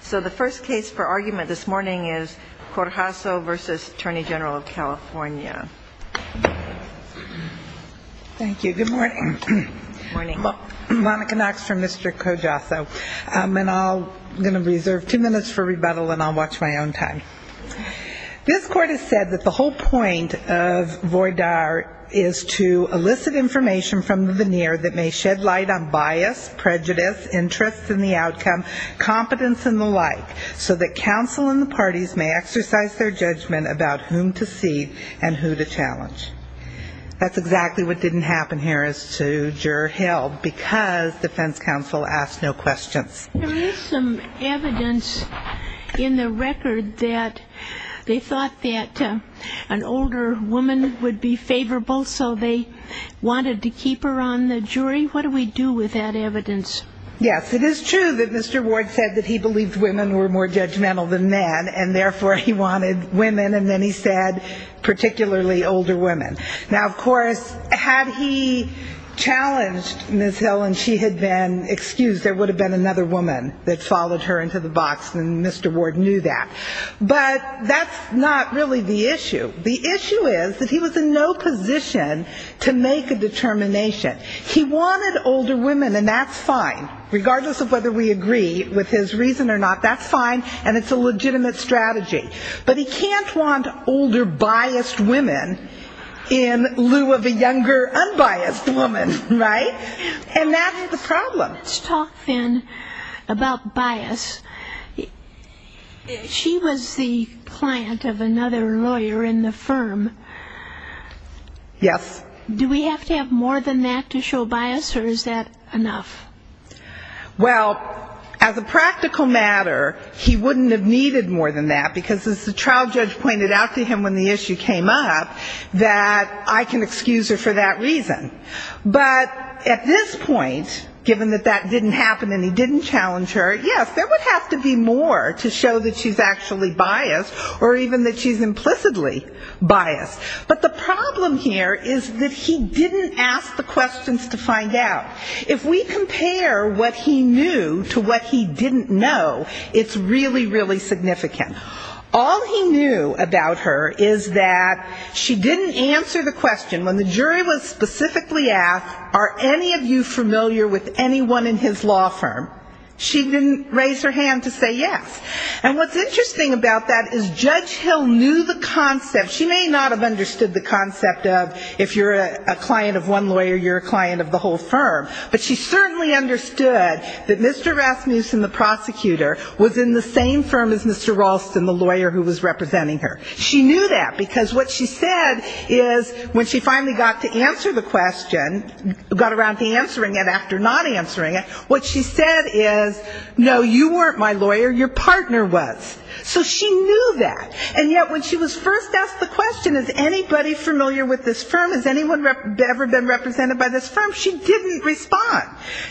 So the first case for argument this morning is Corjasso v. Attorney General of California. Thank you. Good morning. Monica Knox from Mr. Corjasso. I'm going to reserve two minutes for rebuttal and I'll watch my own time. This Court has said that the whole point of VOID-R is to elicit information from the veneer that may shed light on bias, prejudice, interests in the outcome, competence and the like, so that counsel and the parties may exercise their judgment about whom to cede and who to challenge. That's exactly what didn't happen here as to Juror Hill because defense counsel asked no questions. There is some evidence in the record that they thought that an older woman would be the jury. What do we do with that evidence? Yes, it is true that Mr. Ward said that he believed women were more judgmental than men and therefore he wanted women and then he said particularly older women. Now of course had he challenged Ms. Hill and she had been excused, there would have been another woman that followed her into the box and Mr. Ward knew that. But that's not really the issue. The issue is that he was in no position to make a determination. He wanted older women and that's fine, regardless of whether we agree with his reason or not, that's fine and it's a legitimate strategy. But he can't want older biased women in lieu of a younger unbiased woman, right? And that's the problem. Let's talk, then, about bias. She was the client of another lawyer in the United States and a firm. Yes. Do we have to have more than that to show bias or is that enough? Well, as a practical matter, he wouldn't have needed more than that because as the trial judge pointed out to him when the issue came up, that I can excuse her for that reason. But at this point, given that that didn't happen and he didn't challenge her, yes, there would have to be more to show that she's actually biased or even that she's implicitly biased. But the problem here is that he didn't ask the questions to find out. If we compare what he knew to what he didn't know, it's really, really significant. All he knew about her is that she didn't answer the question when the jury was specifically asked, are any of you familiar with anyone in his law firm? She didn't raise her hand to say yes. And what's interesting about that is Judge Hill knew the concept. She may not have understood the concept of if you're a client of one lawyer, you're a client of the whole firm. But she certainly understood that Mr. Rasmussen, the prosecutor, was in the same firm as Mr. Ralston, the lawyer who was representing her. She knew that because what she said is when she finally got to answer the question, got around to answering it after not answering it, what she said is, no, you weren't my lawyer, your partner was. So she knew that. And yet when she was first asked the question, is anybody familiar with this firm, has anyone ever been represented by this firm, she didn't respond.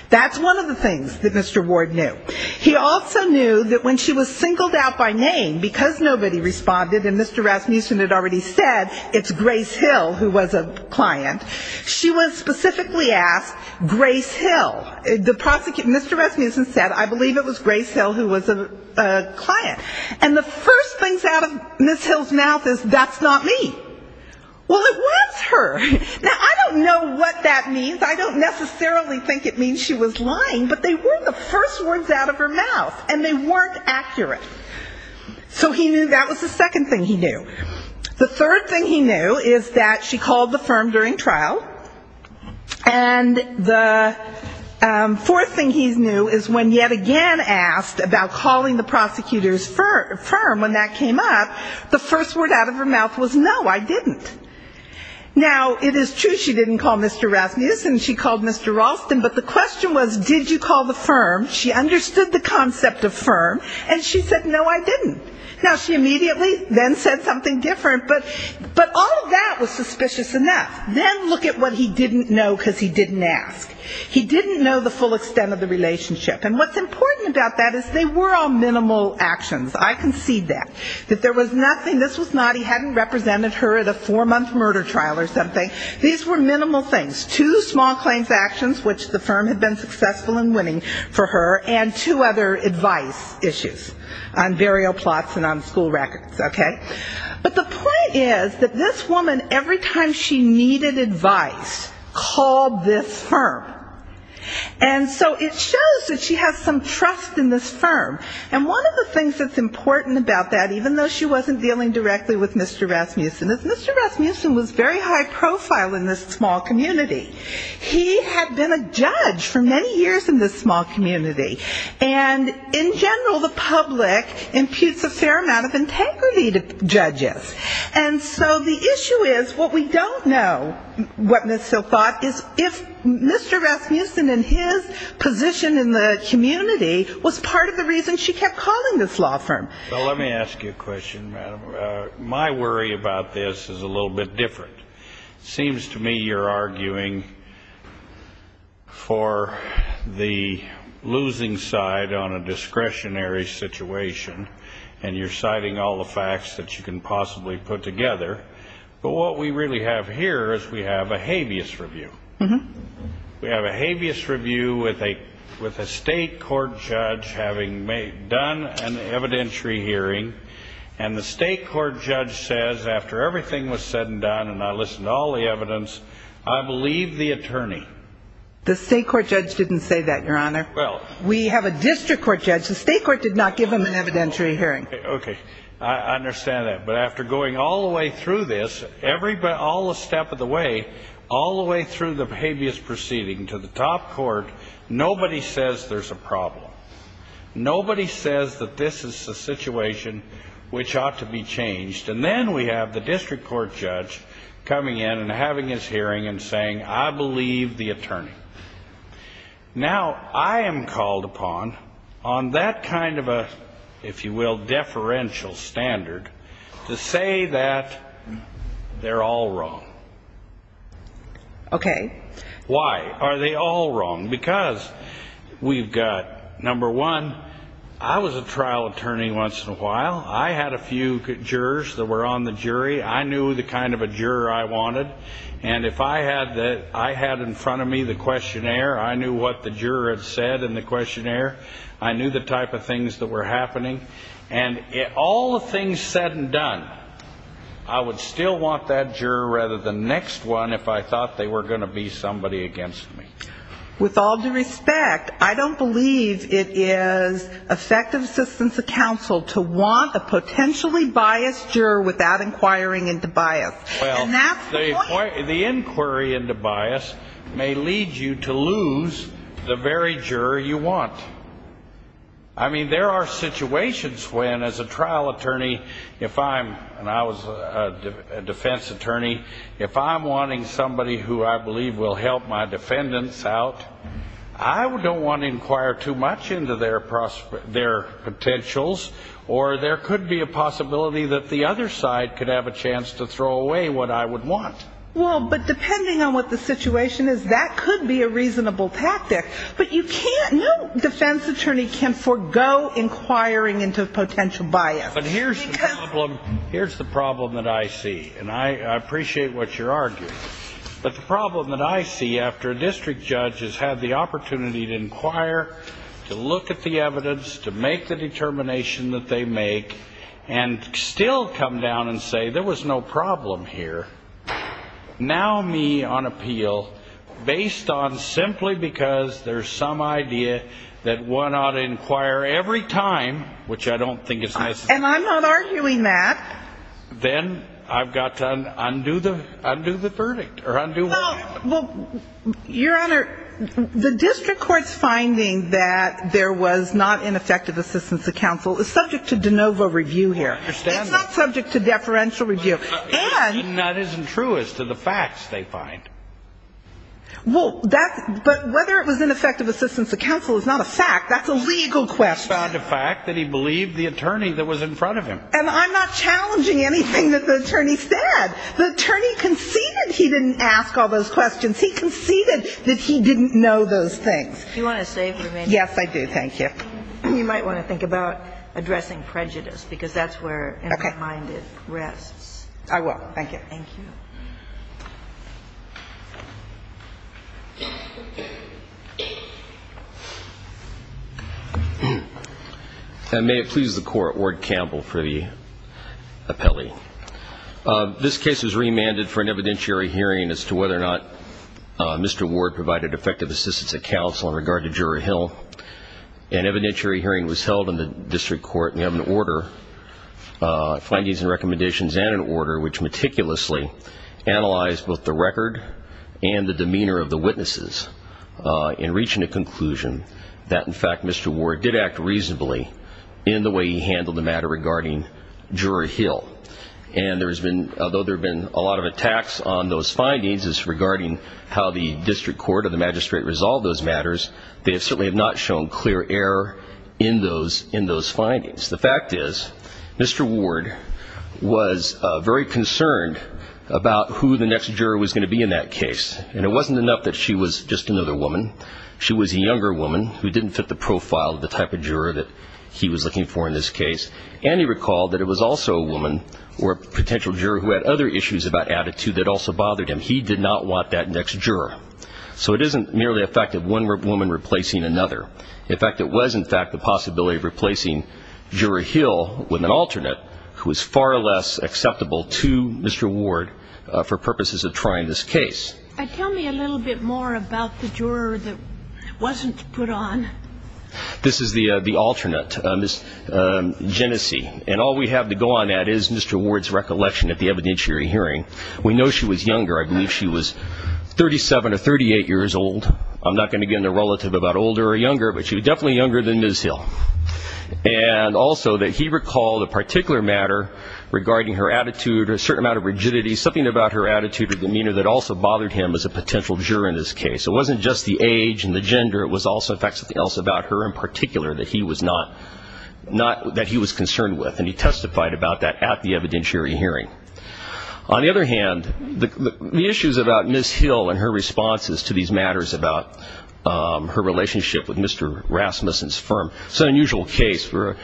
That's one of the things that Mr. Ward knew. He also knew that when she was singled out by name because nobody responded and Mr. Rasmussen had already said it's Grace Hill who was a client, she was specifically asked, Grace Hill, the prosecutor, Mr. Rasmussen said I believe it was Grace Hill who was a client. And the first things out of Ms. Hill's mouth is that's not me. Well, it was her. Now, I don't know what that means. I don't necessarily think it means she was lying, but they were the first words out of her mouth and they weren't accurate. So he knew that was the second thing he knew. The third thing he knew is that she called the firm during trial. And the fourth thing he knew is when yet again asked about calling the prosecutor's firm when that came up, the first word out of her mouth was no, I didn't. Now, it is true she didn't call Mr. Rasmussen, she called Mr. Ralston, but the question was did you call the firm. She then said something different, but all of that was suspicious enough. Then look at what he didn't know because he didn't ask. He didn't know the full extent of the relationship. And what's important about that is they were all minimal actions. I concede that. That there was nothing, this was not he hadn't represented her at a four-month murder trial or something. These were minimal things. Two small claims actions, which the firm had been successful in winning for her, and two other advice issues on burial plots and on school records, okay? But the point is that this woman, every time she needed advice, called this firm. And so it shows that she has some trust in this firm. And one of the things that's important about that, even though she wasn't dealing directly with Mr. Rasmussen, is Mr. Rasmussen was very high profile in this small community. He had been a judge for many years in this small community. And in general, the public imputes a fair amount of integrity to judges. And so the issue is what we don't know, what Ms. Sill thought, is if Mr. Rasmussen and his position in the community was part of the reason she kept calling this law firm. Let me ask you a question, madam. My worry about this is a little bit different. Seems to me you're arguing for the losing side on a discretionary situation. And you're citing all the facts that you can possibly put together. But what we really have here is we have a habeas review. We have a habeas review with a state court judge having done an evidentiary hearing. And the state court judge says, after everything was said and done, and I listened to all the evidence, I believe the attorney. The state court judge didn't say that, Your Honor. We have a district court judge. The state court did not give him an evidentiary hearing. Okay. I understand that. But after going all the way through this, all the step of the way, all the way through the habeas proceeding to the top court, nobody says there's a problem. Nobody says that this is a situation which ought to be changed. And then we have the district court judge coming in and having his hearing and saying, I believe the attorney. Now, I am called upon on that kind of a, if you will, deferential standard to say that they're all wrong. Okay. Why? Are they all wrong? Because we've got, number one, I was a trial attorney once in a while. I had a few jurors that were on the jury. I knew the kind of a juror I wanted. And if I had in front of me the questionnaire, I knew what the juror had said in the questionnaire. I knew the type of things that were happening. And all the things said and done, I would still want that juror rather than next one if I thought they were going to be somebody against me. With all due respect, I don't believe it is effective assistance of counsel to want a potentially biased juror without inquiring into bias. Well, the inquiry into bias may lead you to lose the very juror you want. I mean, there are situations when, as a trial defense attorney, if I'm wanting somebody who I believe will help my defendants out, I don't want to inquire too much into their potentials, or there could be a possibility that the other side could have a chance to throw away what I would want. Well, but depending on what the situation is, that could be a reasonable tactic. But you can't, no defense attorney can forego inquiring into potential bias. Well, but here's the problem that I see. And I appreciate what you're arguing. But the problem that I see after a district judge has had the opportunity to inquire, to look at the evidence, to make the determination that they make, and still come down and say there was no problem here, now me on appeal based on simply because there's some idea that one ought to have, and I'm not arguing that. Then I've got to undo the verdict, or undo what happened. Well, Your Honor, the district court's finding that there was not ineffective assistance to counsel is subject to de novo review here. It's not subject to deferential review. And that isn't true as to the facts they find. Well, that's – but whether it was ineffective assistance to counsel is not a fact. That's a legal question. He found a fact that he believed the attorney that was in front of him. And I'm not challenging anything that the attorney said. The attorney conceded he didn't ask all those questions. He conceded that he didn't know those things. Do you want to stay for a minute? Yes, I do. Thank you. You might want to think about addressing prejudice, because that's where in the mind it rests. I will. Thank you. And may it please the Court, Ward Campbell for the appellee. This case was remanded for an evidentiary hearing as to whether or not Mr. Ward provided effective assistance to counsel in regard to Juror Hill. An evidentiary hearing was held in the district court, and we have an order, findings and recommendations, and an order, which meticulously analyzed both the record and the demeanor of the witnesses in reaching a conclusion that, in fact, Mr. Ward did act reasonably in the way he handled the matter regarding Juror Hill. And there has been – although there have been a lot of attacks on those findings as regarding how the district court or the magistrate resolved those matters, they certainly have not shown clear error in those findings. The fact is, Mr. Ward was very concerned about who the next juror was going to be in that case, and it wasn't enough that she was just another woman. She was a younger woman who didn't fit the profile of the type of juror that he was looking for in this case, and he recalled that it was also a woman or a potential juror who had other issues about attitude that also bothered him. And he did not want that next juror. So it isn't merely a fact of one woman replacing another. In fact, it was, in fact, the possibility of replacing Juror Hill with an alternate who was far less acceptable to Mr. Ward for purposes of trying this case. Tell me a little bit more about the juror that wasn't put on. This is the alternate, Ms. Genesee. And all we have to go on that is Mr. Ward's recollection at the evidentiary hearing. We know she was younger. I believe she was 37 or 38 years old. I'm not going to give the relative about older or younger, but she was definitely younger than Ms. Hill. And also that he recalled a particular matter regarding her attitude or a certain amount of rigidity, something about her attitude or demeanor that also bothered him as a potential juror in this case. It wasn't just the age and the gender. It was also, in fact, something else about her in particular that he was concerned with. And he testified about that at the evidentiary hearing. On the other hand, the issues about Ms. Hill and her responses to these matters about her relationship with Mr. Rasmussen's firm, it's an unusual case where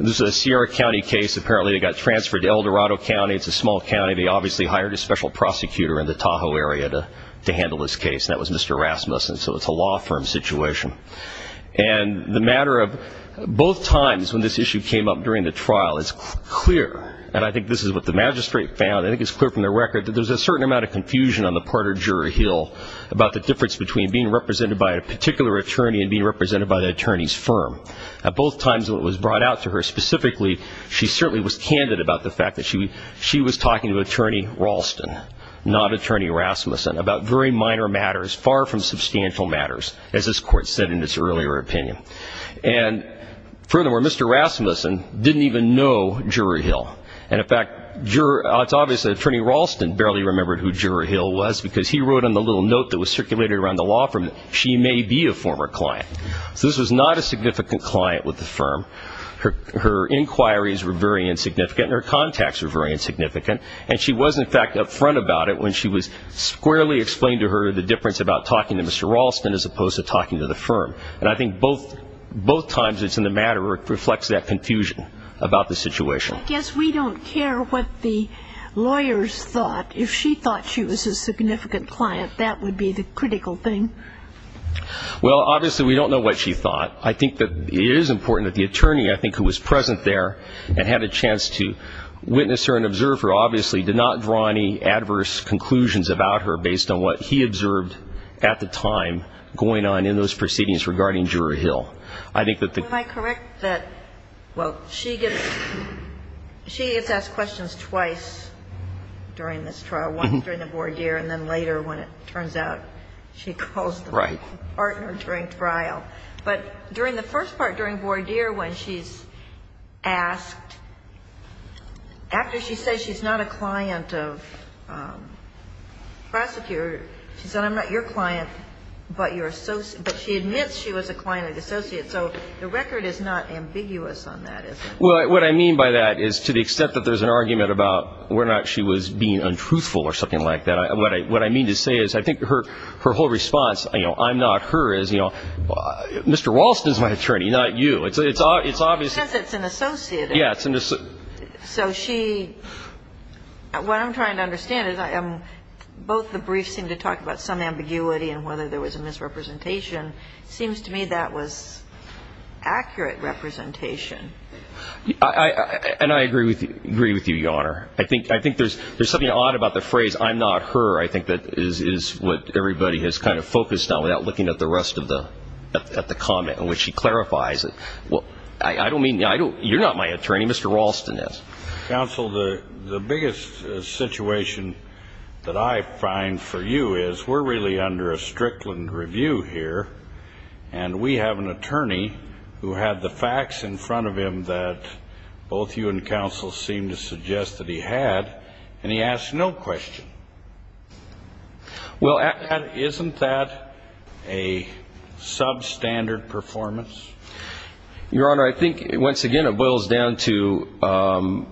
this is a Sierra County case. Apparently they got transferred to Eldorado County. It's a small county. They obviously hired a special prosecutor in the Tahoe area to handle this case, and that was Mr. Rasmussen. So it's a law firm situation. And the matter of both times when this issue came up during the trial, it's clear, and I think this is what the magistrate found, I think it's clear from the record, that there's a certain amount of confusion on the part of Juror Hill about the difference between being represented by a particular attorney and being represented by the attorney's firm. At both times when it was brought out to her specifically, she certainly was candid about the fact that she was talking to Attorney Ralston, not Attorney Rasmussen, about very minor matters, far from substantial matters, as this Court said in its earlier opinion. And furthermore, Mr. Rasmussen didn't even know Juror Hill. And in fact, it's obvious that Attorney Ralston barely remembered who Juror Hill was because he wrote on the little note that was circulated around the law firm that she may be a former client. So this was not a significant client with the firm. Her inquiries were very insignificant and her contacts were very insignificant. And she was, in fact, up front about it when she was squarely explained to her the difference about talking to Mr. Ralston as opposed to talking to the firm. And I think both times it's in the matter where it reflects that confusion about the situation. I guess we don't care what the lawyers thought. If she thought she was a significant client, that would be the critical thing. Well, obviously we don't know what she thought. I think that it is important that the attorney, I think, who was present there and had a chance to witness her and observe her, obviously did not draw any adverse conclusions about her based on what he observed at the time going on in those proceedings regarding Juror Hill. I think that the ---- Am I correct that, well, she gets asked questions twice during this trial, once during the voir dire, and then later when it turns out she calls the partner during trial. Right. But during the first part, during voir dire, when she's asked, after she says she's not a client of prosecutors, she says I'm not your client, but she admits she was a client of the associate. So the record is not ambiguous on that, is it? Well, what I mean by that is to the extent that there's an argument about whether or not she was being untruthful or something like that, what I mean to say is I think her whole response, you know, I'm not her, is, you know, Mr. Ralston's my attorney, not you. It's obvious. Well, she says it's an associate. Yeah, it's an associate. So she ---- what I'm trying to understand is both the briefs seem to talk about some ambiguity and whether there was a misrepresentation. It seems to me that was accurate representation. And I agree with you, Your Honor. I think there's something odd about the phrase I'm not her, I think, that is what everybody has kind of focused on without looking at the rest of the comment in which she clarifies. I don't mean to ---- you're not my attorney. Mr. Ralston is. Counsel, the biggest situation that I find for you is we're really under a Strickland review here, and we have an attorney who had the facts in front of him that both you and counsel seem to suggest that he had, and he asked no question. Well, isn't that a substandard performance? Your Honor, I think, once again, it boils down to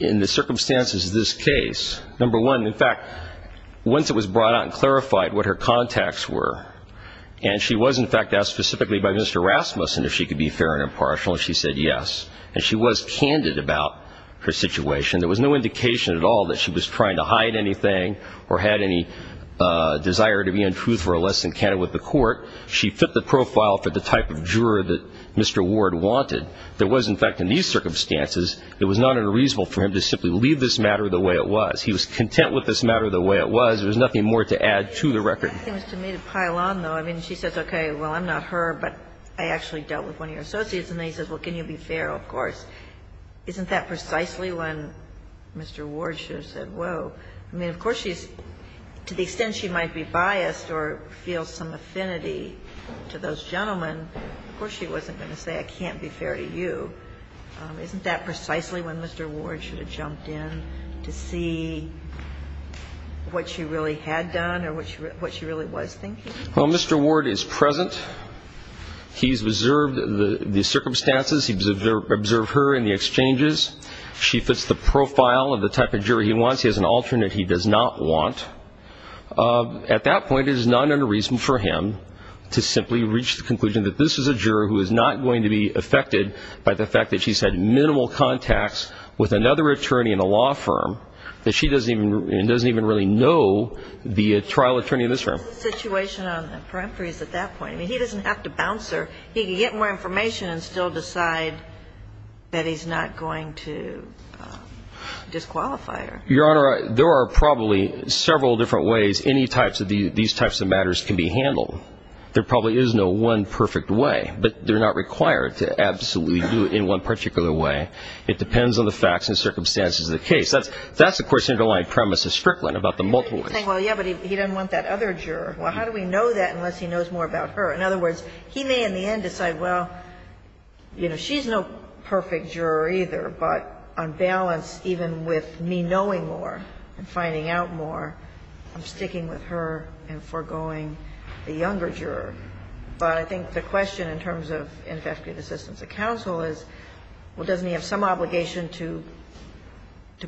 in the circumstances of this case, number one, in fact, once it was brought out and clarified what her contacts were, and she was, in fact, asked specifically by Mr. Rasmussen if she could be fair and impartial, and she said yes. And she was candid about her situation. There was no indication at all that she was trying to hide anything or had any desire to be untruthful or less than candid with the court. She fit the profile for the type of juror that Mr. Ward wanted. There was, in fact, in these circumstances, it was not unreasonable for him to simply leave this matter the way it was. He was content with this matter the way it was. There was nothing more to add to the record. It seems to me to pile on, though. I mean, she says, okay, well, I'm not her, but I actually dealt with one of your associates. And then he says, well, can you be fair, of course. Isn't that precisely when Mr. Ward should have said, whoa? I mean, of course she's to the extent she might be biased or feel some affinity to those gentlemen, of course she wasn't going to say I can't be fair to you. Isn't that precisely when Mr. Ward should have jumped in to see what she really had done or what she really was thinking? Well, Mr. Ward is present. He's observed the circumstances. He's observed her in the exchanges. She fits the profile of the type of juror he wants. He has an alternate he does not want. At that point, there's none other reason for him to simply reach the conclusion that this is a juror who is not going to be affected by the fact that she's had minimal contacts with another attorney in a law firm that she doesn't even really know the trial attorney in this firm. The situation on the peremptory is at that point. I mean, he doesn't have to bounce her. He can get more information and still decide that he's not going to disqualify her. Your Honor, there are probably several different ways any types of these types of matters can be handled. There probably is no one perfect way, but they're not required to absolutely do it in one particular way. It depends on the facts and circumstances of the case. That's, of course, the underlying premise of Strickland about the multiple choice. Well, yeah, but he doesn't want that other juror. Well, how do we know that unless he knows more about her? In other words, he may in the end decide, well, you know, she's no perfect juror either, but on balance, even with me knowing more and finding out more, I'm sticking with her and foregoing the younger juror. But I think the question in terms of ineffective assistance of counsel is, well, doesn't he have some obligation to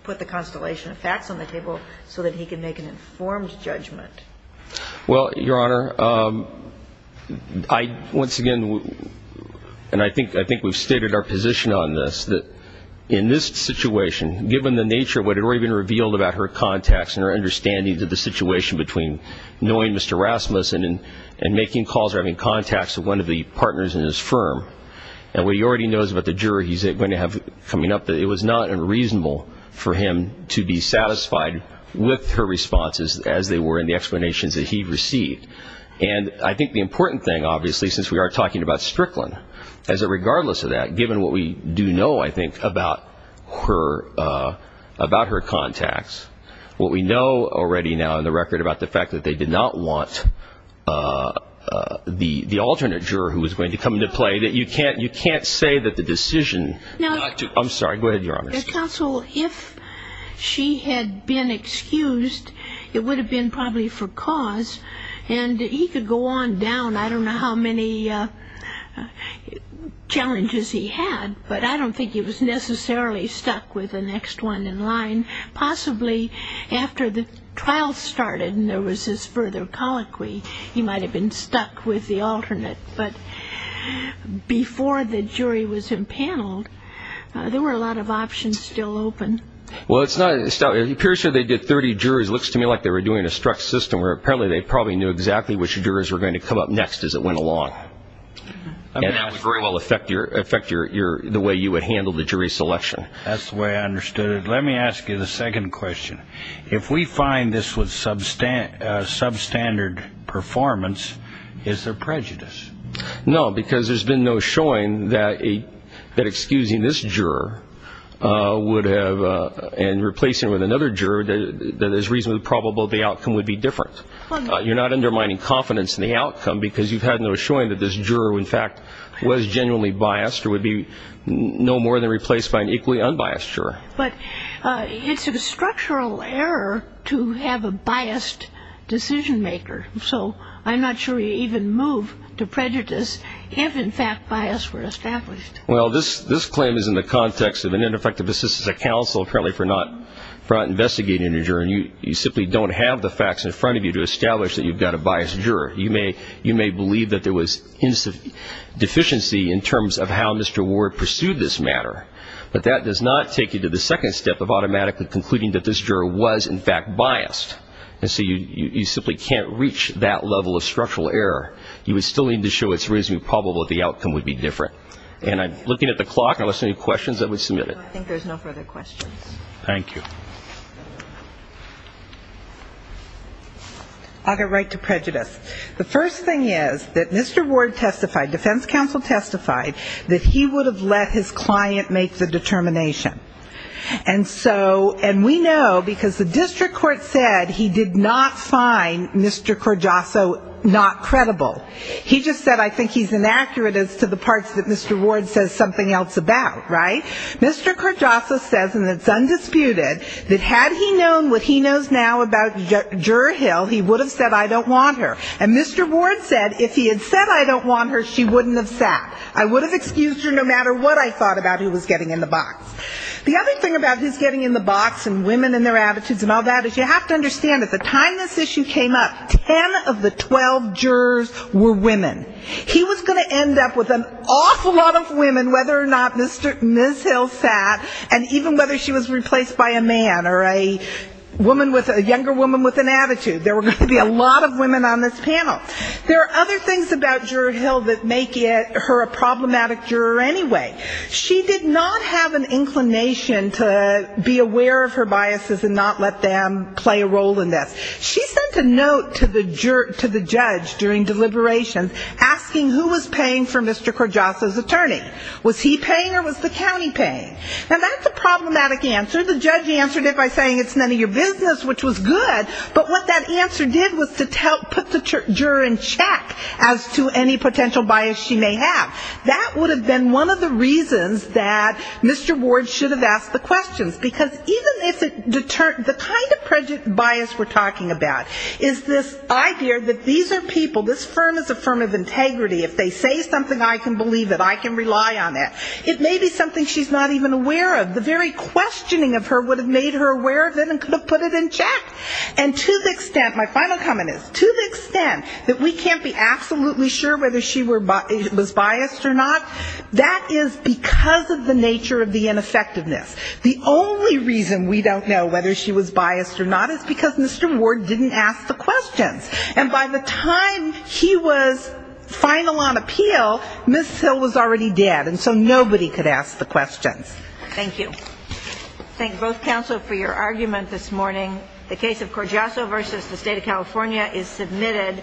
put the constellation of facts on the table so that he can make an informed judgment? Well, Your Honor, once again, and I think we've stated our position on this, that in this situation, given the nature of what had already been revealed about her contacts and her understanding of the situation between knowing Mr. Rasmussen and making calls or having contacts with one of the partners in his firm, and what he already knows about the juror he's going to have coming up, it was not unreasonable for him to be satisfied with her responses as they were in the explanations that he received. And I think the important thing, obviously, since we are talking about Strickland, is that regardless of that, given what we do know, I think, about her contacts, what we know already now in the record about the fact that they did not want the alternate juror who was going to come into play, that you can't say that the decision not to. I'm sorry, go ahead, Your Honor. Counsel, if she had been excused, it would have been probably for cause, and he could go on down. I don't know how many challenges he had, but I don't think he was necessarily stuck with the next one in line. Possibly after the trial started and there was this further colloquy, he might have been stuck with the alternate. But before the jury was impaneled, there were a lot of options still open. Well, it appears to me they did 30 juries. It looks to me like they were doing a struck system where apparently they probably knew exactly which jurors were going to come up next as it went along. And that would very well affect the way you would handle the jury selection. That's the way I understood it. Let me ask you the second question. If we find this was substandard performance, is there prejudice? No, because there's been no showing that excusing this juror would have and replacing it with another juror that is reasonably probable the outcome would be different. You're not undermining confidence in the outcome because you've had no showing that this juror, in fact, was genuinely biased or would be no more than replaced by an equally unbiased juror. But it's a structural error to have a biased decision-maker. So I'm not sure you even move to prejudice if, in fact, bias were established. Well, this claim is in the context of an ineffective assistance of counsel, apparently for not investigating a juror, and you simply don't have the facts in front of you to establish that you've got a biased juror. You may believe that there was deficiency in terms of how Mr. Ward pursued this matter, but that does not take you to the second step of automatically concluding that this juror was, in fact, biased. And so you simply can't reach that level of structural error. You would still need to show it's reasonably probable that the outcome would be different. And I'm looking at the clock. Unless there are any questions, I would submit it. I think there's no further questions. Thank you. I'll get right to prejudice. The first thing is that Mr. Ward testified, defense counsel testified, that he would have let his client make the determination. And so we know, because the district court said he did not find Mr. Corgioso not credible. He just said I think he's inaccurate as to the parts that Mr. Ward says something else about, right? Mr. Corgioso says, and it's undisputed, that had he known what he knows now about Juror Hill, he would have said I don't want her. And Mr. Ward said if he had said I don't want her, she wouldn't have sat. I would have excused her no matter what I thought about who was getting in the box. The other thing about who's getting in the box and women and their attitudes and all that is you have to understand at the time this issue came up, ten of the 12 jurors were women. He was going to end up with an awful lot of women, whether or not Ms. Hill sat, and even whether she was replaced by a man or a woman with a younger woman with an attitude. There were going to be a lot of women on this panel. There are other things about Juror Hill that make her a problematic juror anyway. She did not have an inclination to be aware of her biases and not let them play a role in this. She sent a note to the judge during deliberations asking who was paying for Mr. Corgioso's attorney. Was he paying or was the county paying? Now, that's a problematic answer. The judge answered it by saying it's none of your business, which was good, but what that answer did was to put the juror in check as to any potential bias she may have. That would have been one of the reasons that Mr. Ward should have asked the questions, because even if it deterred the kind of bias we're talking about is this idea that these are people, this firm is a firm of integrity. If they say something, I can believe it. I can rely on it. It may be something she's not even aware of. The very questioning of her would have made her aware of it and could have put it in check. And to the extent, my final comment is, to the extent that we can't be absolutely sure whether she was biased or not, that is because of the nature of the ineffectiveness. The only reason we don't know whether she was biased or not is because Mr. Ward didn't ask the questions. And by the time he was final on appeal, Ms. Hill was already dead, and so nobody could ask the questions. Thank you. Thank both counsel for your argument this morning. The case of Corgiasso v. The State of California is submitted.